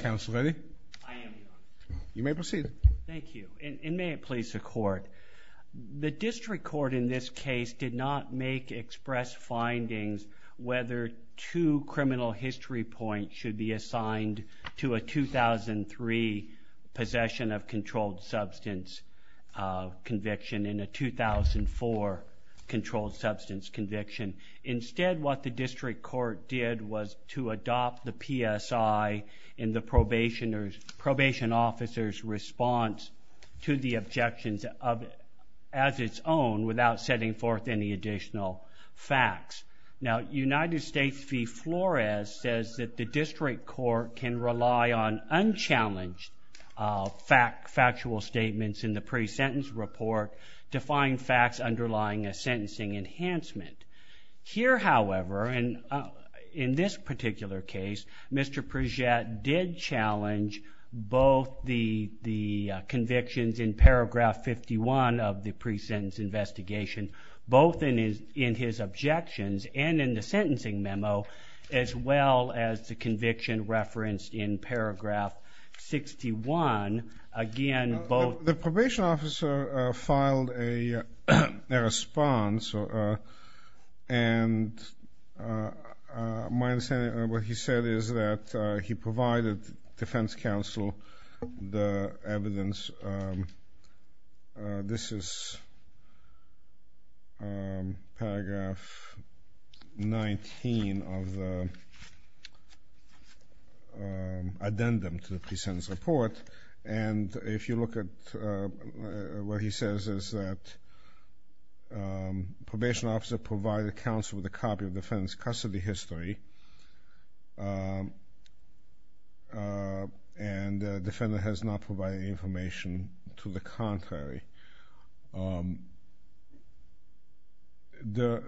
counsel ready you may proceed thank you and may it please the court the district court in this case did not make express findings whether two criminal history points should be assigned to a 2003 possession of controlled substance conviction in a 2004 controlled substance conviction instead what the probationers probation officers response to the objections of as its own without setting forth any additional facts now United States v. Flores says that the district court can rely on unchallenged fact factual statements in the pre-sentence report to find facts underlying a sentencing enhancement here however and in this particular case Mr. Pridgette did challenge both the the convictions in paragraph 51 of the pre-sentence investigation both in his in his objections and in the sentencing memo as well as the conviction referenced in paragraph 61 again both the probation officer filed a response and my understanding what he said is that he provided defense counsel the evidence this is paragraph 19 of the addendum to the pre-sentence report and if you look at what he says is that probation officer provided counsel with a copy of defense custody history and the defendant has not provided information to the contrary the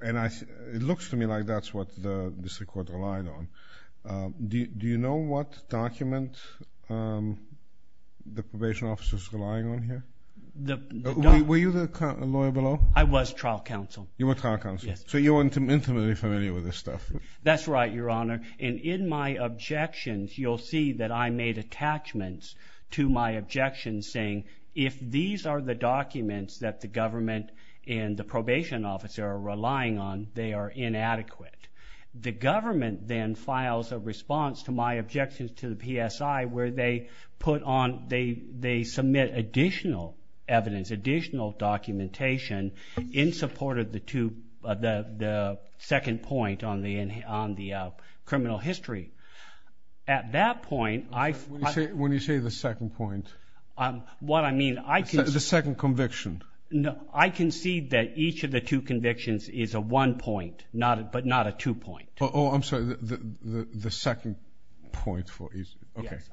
and I it looks to me like that's what the district court relied on do you know what document the probation officers relying on here were you the lawyer below I was trial counsel you were trial counsel so you weren't intimately familiar with this stuff that's right your honor and in my objections you'll see that I made attachments to my objections saying if these are the documents that the government and the government then files a response to my objections to the PSI where they put on they they submit additional evidence additional documentation in support of the two of the the second point on the in on the criminal history at that point I when you say the second point what I mean I can the second conviction no I can see that each of the two convictions is a one point not but not a two point oh I'm sorry the the second point for you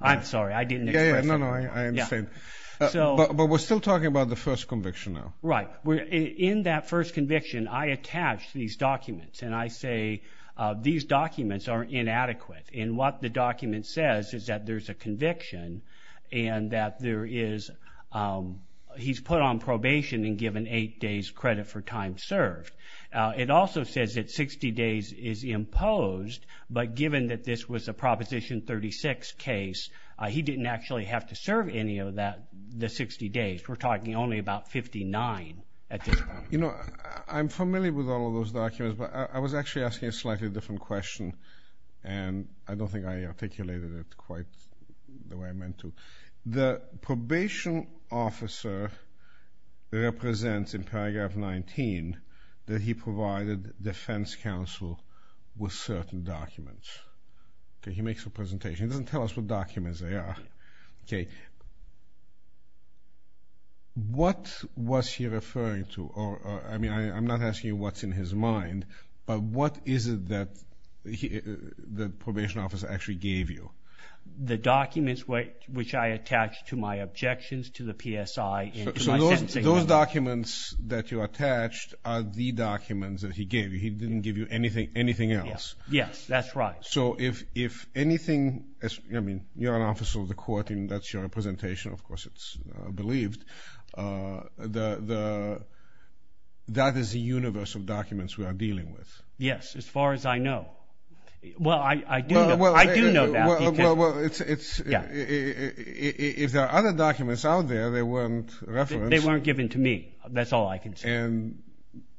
I'm sorry I didn't know no I understand so but we're still talking about the first conviction now right we're in that first conviction I attached these documents and I say these documents are inadequate in what the document says is that there's a conviction and that there is he's put on probation and given eight days credit for time served it also says that 60 days is imposed but given that this was a proposition 36 case I he didn't actually have to serve any of that the 60 days we're talking only about 59 at you know I'm familiar with all of those documents but I was actually asking a slightly different question and I don't think I articulated it quite the way I meant to the probation officer represents in paragraph 19 that he provided defense counsel with certain documents okay he makes a presentation doesn't tell us what documents they are okay what was he referring to or I mean I'm not asking you what's in his mind but what is it that he the probation officer actually gave you the documents which I attached to my objections to the PSI those documents that you attached are the documents that he gave you he didn't give you anything anything else yes that's right so if if anything I mean you're an officer of the court and that's your representation of course it's believed the that is a universal documents we are dealing with yes as far as I know well I do well I do know that it's if there are other documents out there they weren't they weren't given to me that's all I can say and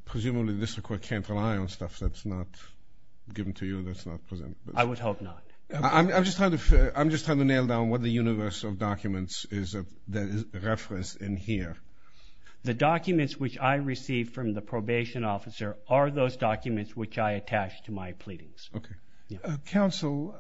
presumably this record can't rely on stuff that's not given to you that's not present I would hope not I'm just trying to I'm just trying to nail down what the universe of documents is that is referenced in here the documents which I received from the probation officer are those documents which I attached to my pleadings okay counsel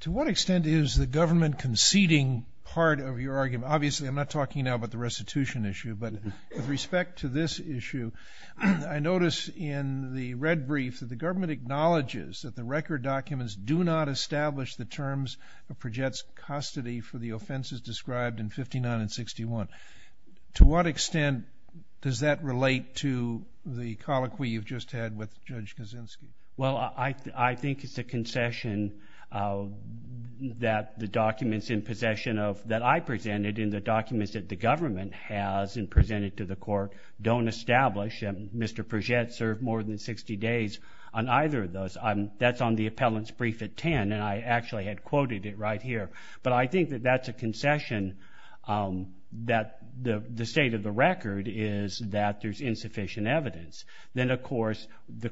to what extent is the government conceding part of your argument obviously I'm not talking now about the restitution issue but with respect to this issue I notice in the red brief that the government acknowledges that the record documents do not establish the terms of projects custody for the offenses described in well I I think it's a concession that the documents in possession of that I presented in the documents that the government has and presented to the court don't establish and mr. project served more than 60 days on either of those I'm that's on the appellant's brief at 10 and I actually had quoted it right here but I think that that's a concession that the the state of the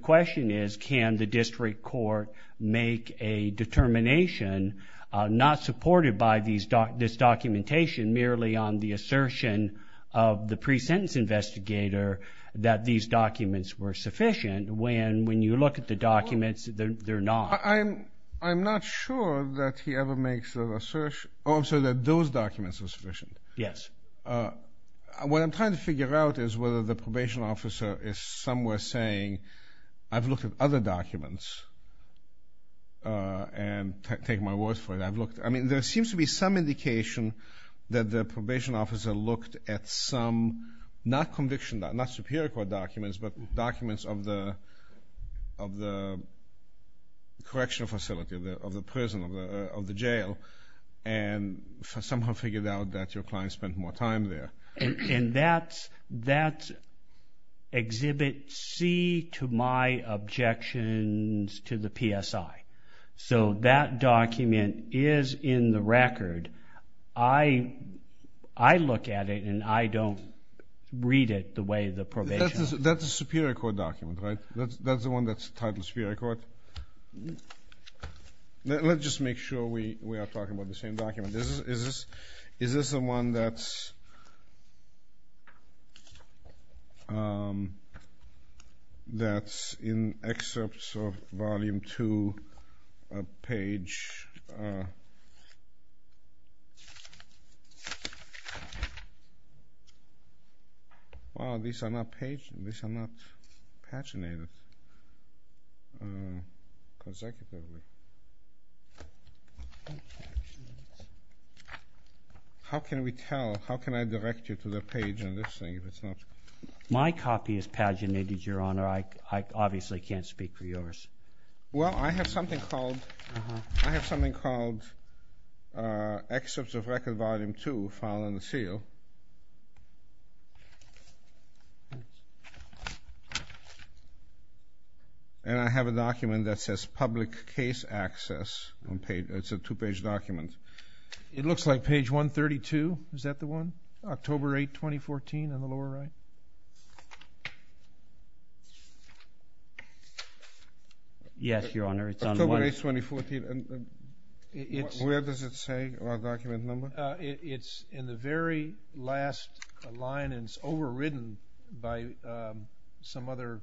question is can the district court make a determination not supported by these doc this documentation merely on the assertion of the pre-sentence investigator that these documents were sufficient when when you look at the documents they're not I'm I'm not sure that he ever makes the research also that those documents are sufficient yes what I'm trying to figure out is whether probation officer is somewhere saying I've looked at other documents and take my words for it I've looked I mean there seems to be some indication that the probation officer looked at some not conviction that not superior court documents but documents of the of the correctional facility of the prison of the of the jail and somehow figured out that your client spent more time there and that's that's exhibit C to my objections to the PSI so that document is in the record I I look at it and I don't read it the way the probation that's a superior court document right that's the one that's titled superior court let's just make sure we we are talking about the same document this is is this the one that's that's in excerpts of volume to a page how can we tell how can I direct you to the page on this thing if it's not my copy is paginated your honor I obviously can't speak for yours well I have something called I have something called excerpts of record volume to following the seal and I have a document that says public case access on page that's a two-page document it looks like page 132 is that the one October 8 2014 on the lower right yes your honor it's on the way 2014 and it's where does it say our document number it's in the very last line and it's overridden by some other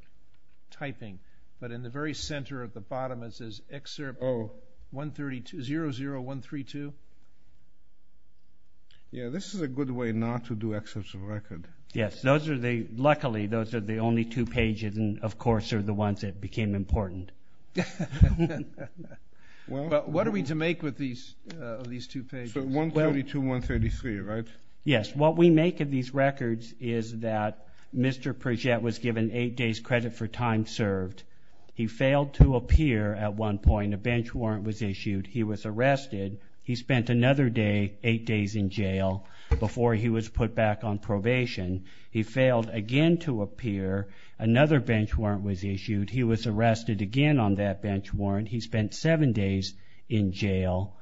typing but in the very center at the bottom it says excerpt 0 1 32 0 0 1 32 yeah this is a good way not to do excerpts of record yes those are they luckily those are the only two pages and of course are the ones that became important what are we to make with these these two pages 132 133 right yes what we make of these records is that mr. Pritchett was given eight days credit for time served he failed to appear at one point a bench warrant was issued he was arrested he spent another day eight days in jail before he was put back on probation he failed again to appear another bench warrant was issued he was arrested again on that bench warrant he spent seven days in jail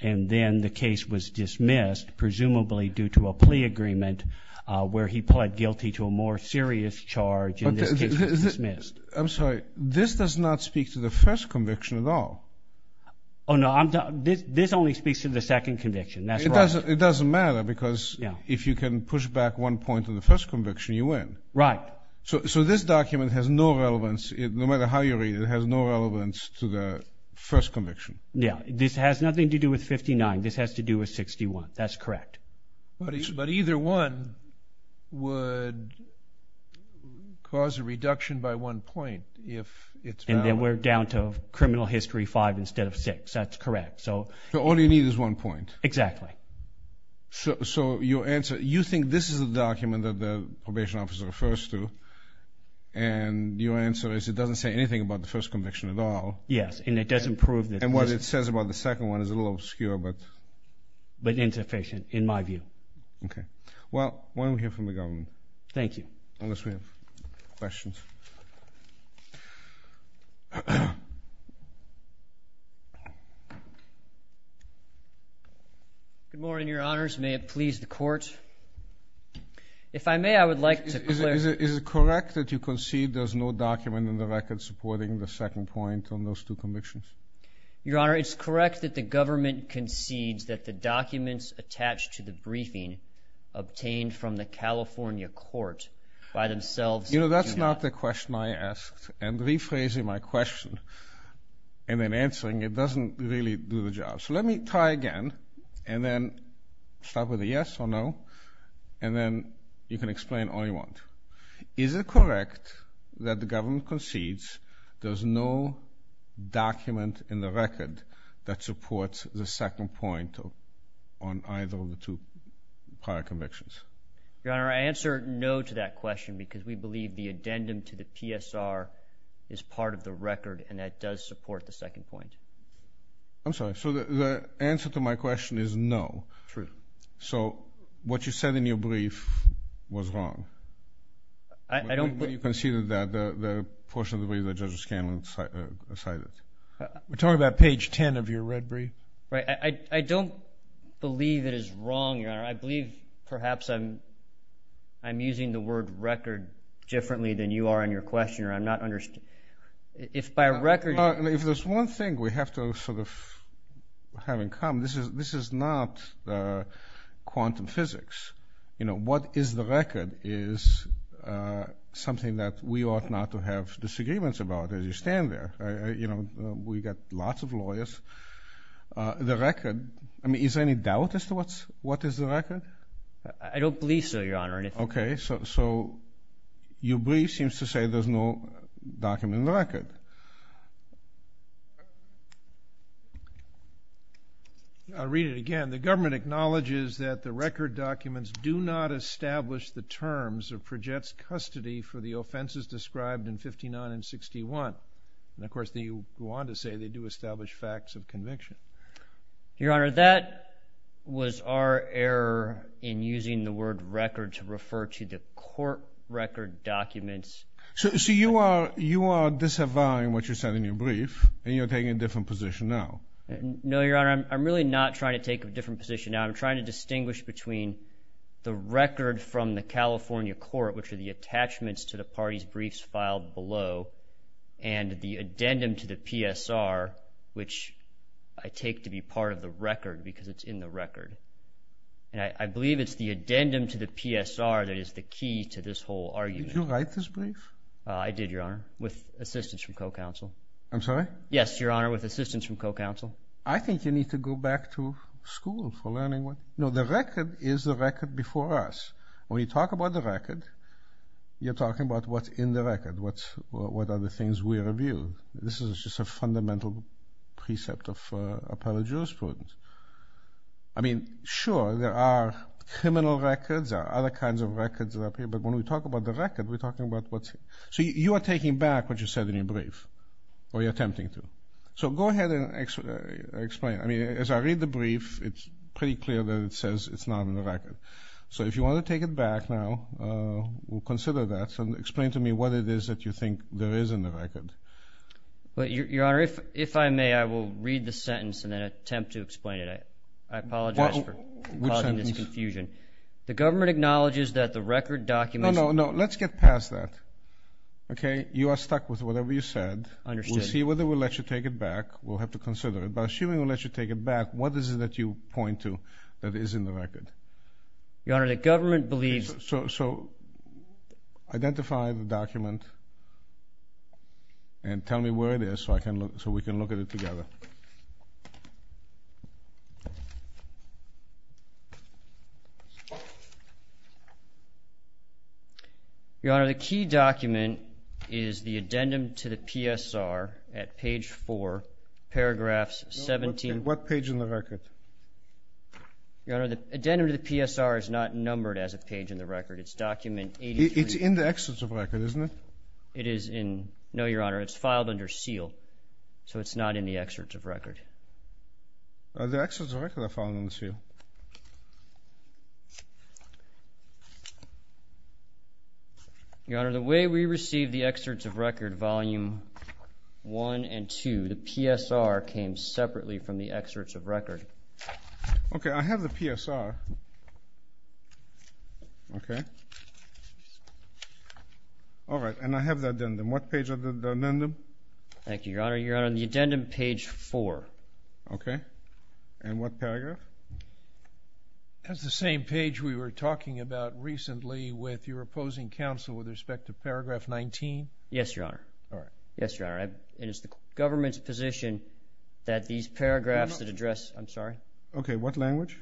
and then the case was dismissed presumably due to a plea agreement where he pled guilty to a more serious charge I'm sorry this does not speak to the first conviction at all oh no I'm done this this only speaks to the second conviction that's it doesn't matter because yeah if you can push back one point to the first conviction you win right so this document has no relevance it no matter how you read it has no relevance to the first conviction yeah this has nothing to do with 59 this has to do with 61 that's correct but it's but either one would cause a reduction by one point if it's and then we're down to criminal history five instead of six that's correct so all you need is one point exactly so your answer you think this is a document that the probation officer refers to and your answer is it doesn't say anything about the first conviction at all yes and it doesn't prove that and what it says about the second one is a little obscure but but insufficient in my view okay well why don't we hear from the good morning your honors may it please the court if I may I would like to is it is it correct that you concede there's no document in the record supporting the second point on those two convictions your honor it's correct that the government concedes that the documents attached to the briefing obtained from the California court by themselves you know that's not the question I asked and answering it doesn't really do the job so let me try again and then stop with a yes or no and then you can explain all you want is it correct that the government concedes there's no document in the record that supports the second point on either of the two prior convictions your honor I answer no to that question because we believe the addendum to the PSR is part of the record and that does support the second point I'm sorry so the answer to my question is no true so what you said in your brief was wrong I don't believe you conceded that the portion of the way that judge Scanlon cited we're talking about page 10 of your red brief right I don't believe it is wrong your honor I believe perhaps I'm I'm using the word record differently than you are in your questioner I'm not understood if by record if there's one thing we have to sort of having come this is this is not quantum physics you know what is the record is something that we ought not to have disagreements about as you stand there you know we got lots of lawyers the record I mean is there any doubt as to what's what is the record I don't believe so your honor okay so you brief seems to say there's no document in the record I'll read it again the government acknowledges that the record documents do not establish the terms of projects custody for the offenses described in 59 and 61 and of course they want to say they do establish facts of conviction your honor that was our error in using the word record to refer to the court record documents so you are you are disavowing what you said in your brief and you're taking a different position now no your honor I'm really not trying to take a different position now I'm trying to distinguish between the record from the California court which are the attachments to the parties briefs filed below and the addendum to the PSR which I take to be part of the record because it's in the record and I believe it's the addendum to the PSR that is the key to this whole argument you write this brief I did your honor with assistance from co-counsel I'm sorry yes your honor with assistance from co-counsel I think you need to go back to school for learning what you know the record is the record before us when you talk about the record you're talking about what's in the record what's what are the things we review this is just a fundamental precept of appellate jurisprudence I sure there are criminal records are other kinds of records up here but when we talk about the record we're talking about what so you are taking back what you said in your brief or you're attempting to so go ahead and explain I mean as I read the brief it's pretty clear that it says it's not in the record so if you want to take it back now we'll consider that and explain to me what it is that you think there is in the record but your honor if if I may I will read the sentence and then attempt to explain it I apologize for causing this confusion the government acknowledges that the record document no no let's get past that okay you are stuck with whatever you said understand see whether we'll let you take it back we'll have to consider it by assuming we'll let you take it back what is it that you point to that is in the record your honor the government believes so identify the document and your honor the key document is the addendum to the PSR at page 4 paragraphs 17 what page in the record your honor the addendum to the PSR is not numbered as a page in the record it's document it's in the excerpts of record isn't it it is in no your honor it's filed under seal so it's not in the excerpts of record the excerpts of record are filed under seal your honor the way we received the excerpts of record volume 1 and 2 the PSR came separately from the excerpts of record okay I have the PSR okay all right and I have the addendum what page thank you your honor your honor the addendum page 4 okay and what paragraph that's the same page we were talking about recently with your opposing counsel with respect to paragraph 19 yes your honor all right yes your honor it is the government's position that these paragraphs that address I'm sorry okay what language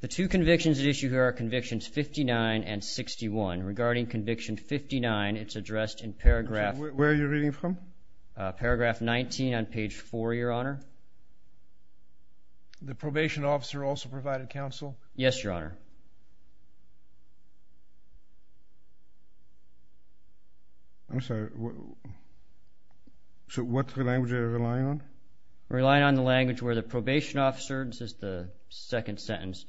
the two convictions at issue here are convictions 59 and 61 regarding conviction 59 it's addressed in paragraph where you're reading from paragraph 19 on page 4 your honor the probation officer also provided counsel yes your honor I'm sorry so what the language are relying on relying on the language where the probation officers is the second sentence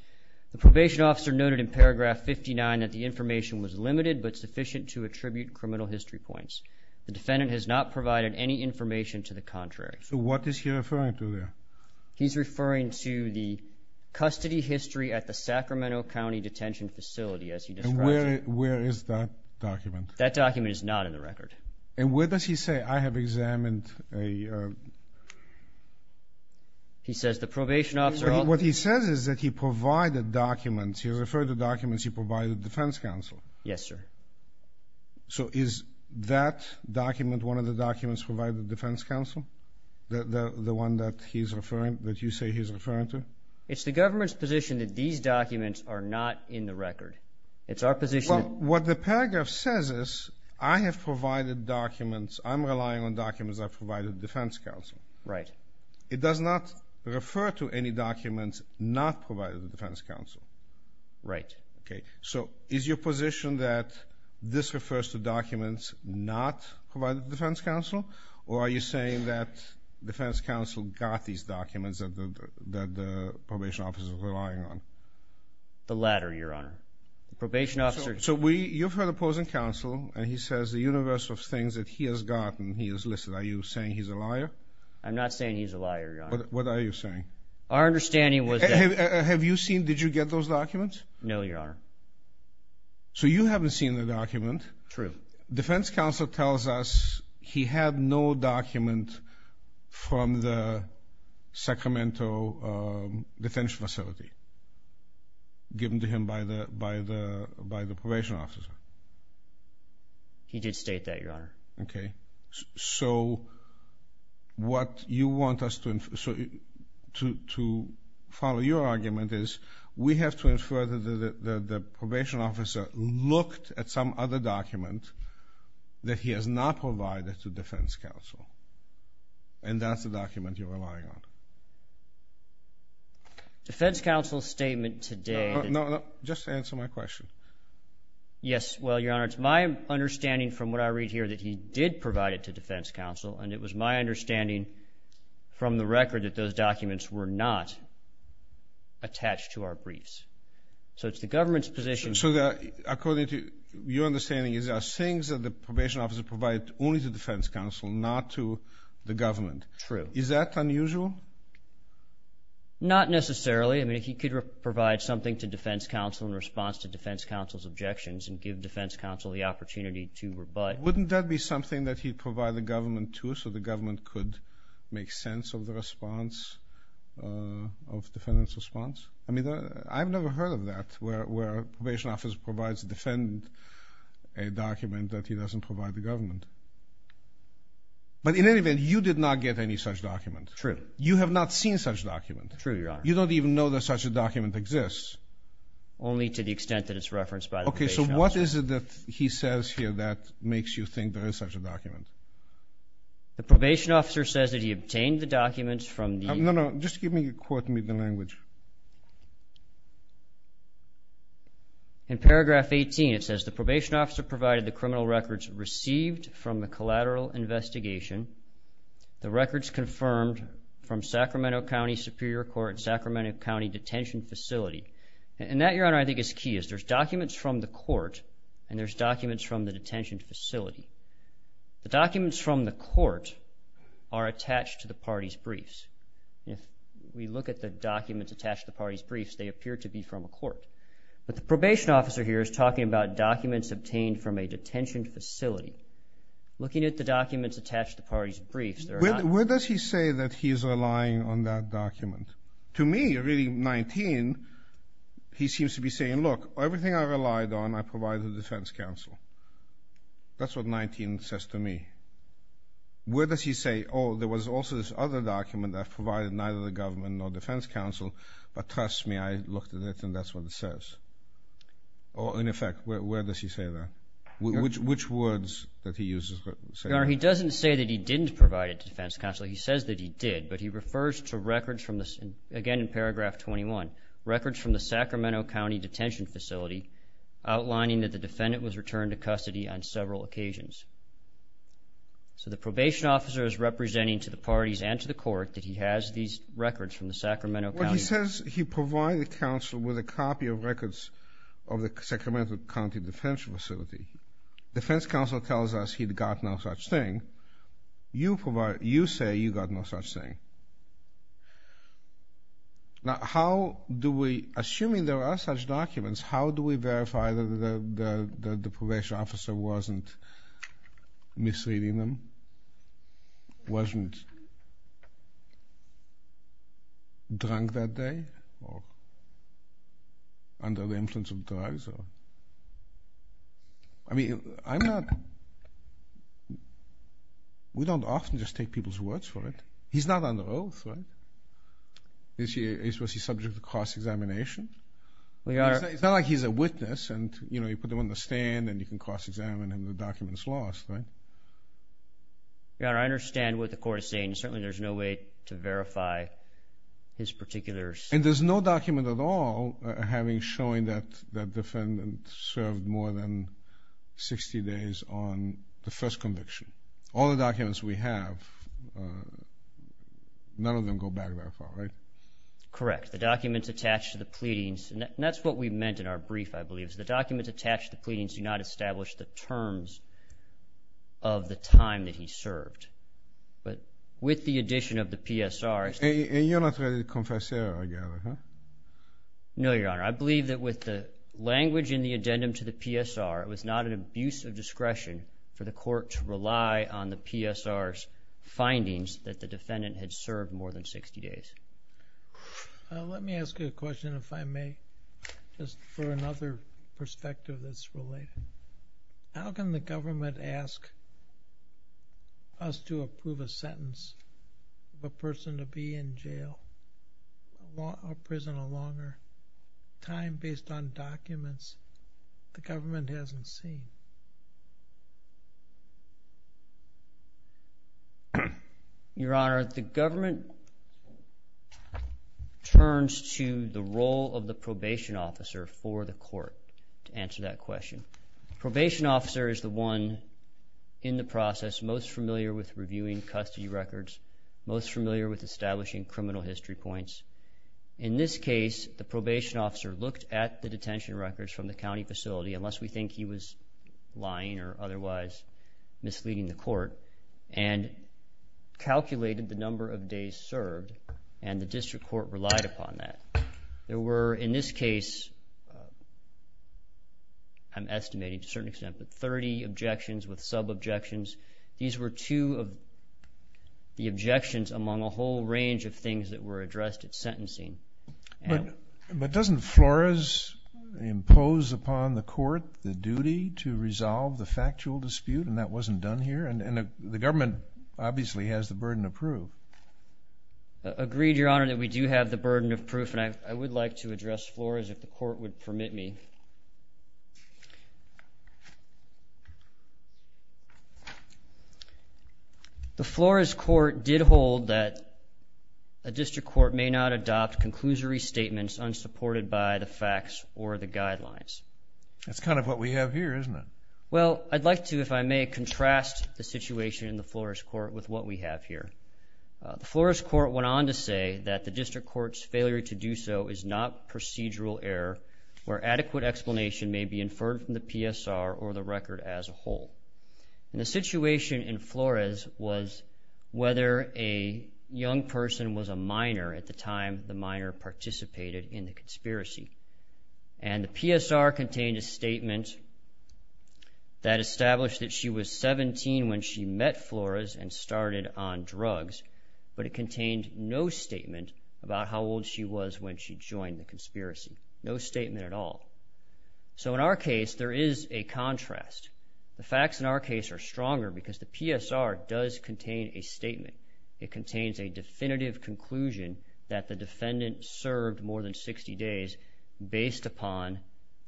the probation officer noted in paragraph 59 that the information was limited but sufficient to attribute criminal history points the defendant has not provided any information to the contrary so what is he referring to there he's referring to the custody history at the Sacramento County Detention Facility as you describe it where is that document that document is not in the record and where does he say I have examined a he says the probation officer what he says is that he provided documents he referred the documents he provided defense counsel yes sir so is that document one of the documents provided defense counsel the the one that he's referring that you say he's referring to it's the government's position that these documents are not in the record it's our position what the paragraph says is I have provided documents I'm relying on documents I've provided defense counsel right it does not refer to any documents not provided the defense counsel right okay so is your position that this refers to documents not provided defense counsel or are you saying that defense counsel got these documents that the probation officers relying on the latter your honor the probation officer so we you've heard opposing counsel and he says the universe of things that he has gotten he is listed are you saying he's a liar I'm not saying he's a liar what are you saying our understanding was have you seen did you get those documents no your honor so you haven't seen the document true defense counsel tells us he had no document from the Sacramento detention facility given to him by the by the by the probation officer he did state that your honor okay so what you want us to so to follow your argument is we have to infer that the probation officer looked at some other document that he has not provided to defense counsel and that's the document you're relying on defense counsel statement today no just answer my question yes well your honor it's my understanding from what I read here that he did provide it to defense counsel and it was my understanding from the record that those documents were not attached to our briefs so it's the government's position so that according to your understanding is our things that the probation officer provide only to defense counsel not to the government true is that unusual not necessarily I mean he could provide something to defense counsel's objections and give defense counsel the opportunity to rebut wouldn't that be something that he provide the government to so the government could make sense of the response of defendant's response I mean I've never heard of that where probation office provides defendant a document that he doesn't provide the government but in any event you did not get any such document true you have not seen such document true you don't even know that such a document exists only to the extent that it's referenced by okay so what is it that he says here that makes you think there is such a document the probation officer says that he obtained the documents from no no just give me a quote me the language in paragraph 18 it says the probation officer provided the criminal records received from the collateral investigation the records confirmed from Sacramento County Superior Court Sacramento County detention facility and that your honor I think is key is there's documents from the court and there's documents from the detention facility the documents from the court are attached to the party's briefs if we look at the documents attached the party's briefs they appear to be from a court but the probation officer here is talking about documents obtained from a detention facility looking at the documents attached to parties briefs there where does he say that he is relying on that document to me really 19 he seems to be saying look everything I relied on I provide the defense counsel that's what 19 says to me where does he say oh there was also this other document that provided neither the government nor defense counsel but trust me I looked at it and that's what it says or in effect where does he say that which which words that he uses he doesn't say that he didn't provide it to defense counsel he says that he did but he refers to records from this again in paragraph 21 records from the Sacramento County detention facility outlining that the defendant was returned to custody on several occasions so the probation officer is representing to the parties and to the court that he has these records from the Sacramento he says he provided counsel with a copy of records of the Sacramento County defense facility defense counsel tells us he'd got no such thing you provide you say you got no such thing now how do we assuming there are such documents how do we verify that the probation officer wasn't misleading them wasn't drunk that under the influence of drugs I mean I'm not we don't often just take people's words for it he's not on the oath right this year is was he subject to cross examination we are it's not like he's a witness and you know you put them on the stand and you can cross-examine him the documents lost right yeah I understand what the court is saying certainly there's no way to verify his particular and there's no document at all having showing that that defendant served more than 60 days on the first conviction all the documents we have none of them go back that far right correct the documents attached to the pleadings and that's what we meant in our brief I believe is the documents attached the pleadings do not establish the terms of the time that he served but with the addition of the PSR and you're not ready to confess no your honor I believe that with the language in the addendum to the PSR it was not an abuse of discretion for the court to rely on the PSR's findings that the defendant had served more than 60 days let me ask you a question if I may just for another of a person to be in jail prison a longer time based on documents the government hasn't seen your honor the government turns to the role of the probation officer for the court to answer that question probation officer is the one in the process most familiar with reviewing custody records most familiar with establishing criminal history points in this case the probation officer looked at the detention records from the county facility unless we think he was lying or otherwise misleading the court and calculated the number of days served and the district court relied upon that there objections with sub objections these were two of the objections among a whole range of things that were addressed at sentencing but doesn't Flores impose upon the court the duty to resolve the factual dispute and that wasn't done here and the government obviously has the burden of proof agreed your honor that we do have the burden of proof and I would like to address floors if the the floor is court did hold that a district court may not adopt conclusory statements unsupported by the facts or the guidelines that's kind of what we have here isn't it well I'd like to if I may contrast the situation in the floor is court with what we have here for us court went on to say that the district court's failure to do so is not procedural error or adequate explanation may be inferred from the PSR or the record as a whole in the situation in Flores was whether a young person was a minor at the time the minor participated in the conspiracy and the PSR contained a statement that established that she was 17 when she met Flores and started on drugs but it contained no statement about how old she was when she joined the conspiracy no statement at all so in our case there is a contrast the facts in our case are stronger because the PSR does contain a statement it contains a definitive conclusion that the defendant served more than 60 days based upon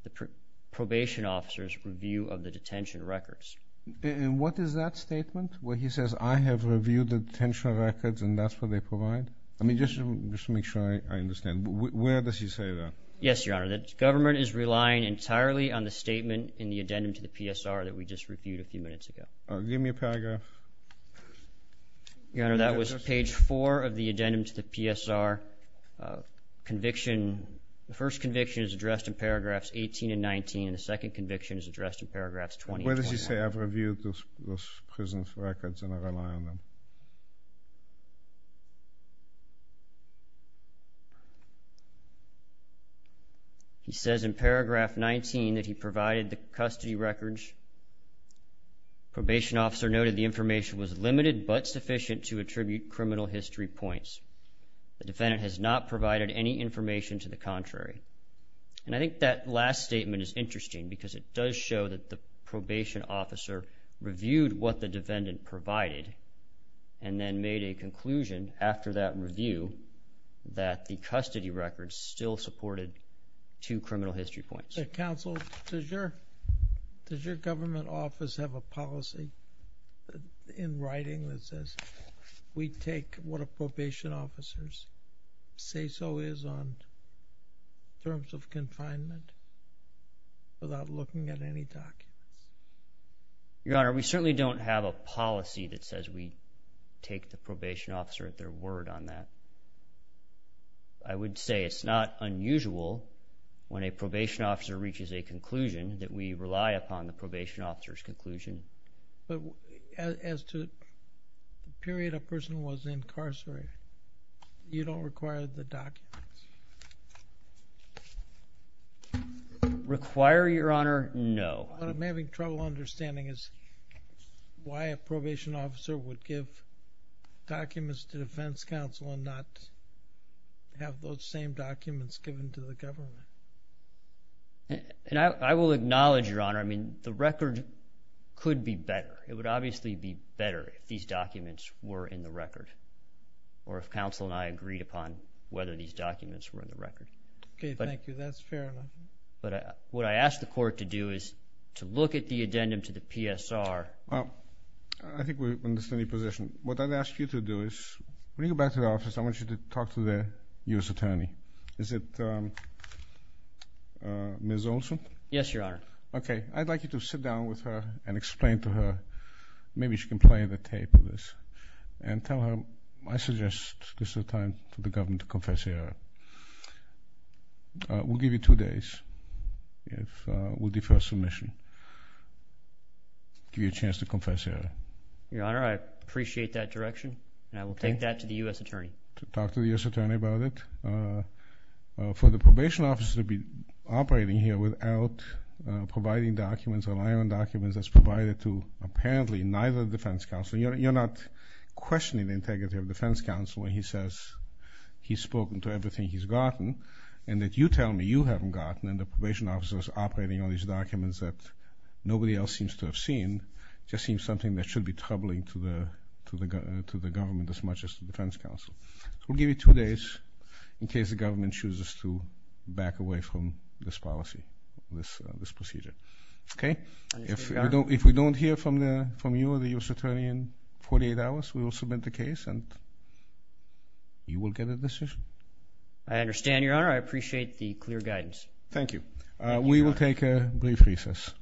the probation officers review of the detention records and what is that statement where he says I have reviewed the detention records and that's what they provide I mean just to make sure I understand where does he say that yes your honor that government is relying entirely on the statement in the addendum to the PSR that we just reviewed a few minutes ago give me a paragraph your honor that was page 4 of the addendum to the PSR conviction the first conviction is addressed in paragraphs 18 and 19 and the second conviction is addressed in paragraphs 20 where does he say I've reviewed those prisons records and I rely on them he says in paragraph 19 that he provided the custody records probation officer noted the information was limited but sufficient to attribute criminal history points the defendant has not provided any information to the contrary and I think that last statement is interesting because it does show that the probation officer reviewed what the defendant provided and then made a two criminal history points that counsel does your does your government office have a policy in writing that says we take what a probation officers say so is on terms of confinement without looking at any doc your honor we certainly don't have a policy that says we take the probation officer at their word on that I would say it's not unusual when a probation officer reaches a conclusion that we rely upon the probation officers conclusion but as to the period a person was incarcerated you don't require the doc require your honor no I'm having trouble understanding is why a probation officer would give documents to defense counsel and not have those same documents given to the government and I will acknowledge your honor I mean the record could be better it would obviously be better if these documents were in the record or if counsel and I agreed upon whether these documents were in the record okay thank you that's fair but what I asked the court to do is to look at the addendum to the PSR I think we understand the position what I've asked you to do is when you go back to the office I want you to talk to the US attorney is it mrs. Olson yes your honor okay I'd like you to sit down with her and explain to her maybe she can play the tape of this and tell her I suggest this is a time for the government to confess here we'll give you two days if we'll defer submission give you a chance to confess here your honor I appreciate that direction and I will take that to the US attorney to talk to the US attorney about it for the probation officer to be operating here without providing documents rely on documents that's provided to apparently neither defense counsel you're not questioning the integrity of defense counsel when he says he's spoken to everything he's gotten and that you tell me you haven't and the probation officers operating on these documents that nobody else seems to have seen just seems something that should be troubling to the to the to the government as much as the defense counsel we'll give you two days in case the government chooses to back away from this policy this this procedure okay if we don't if we don't hear from the from you or the US attorney in 48 hours we will submit the case and you will get a decision I understand your honor I appreciate the clear guidance thank you we will take a brief recess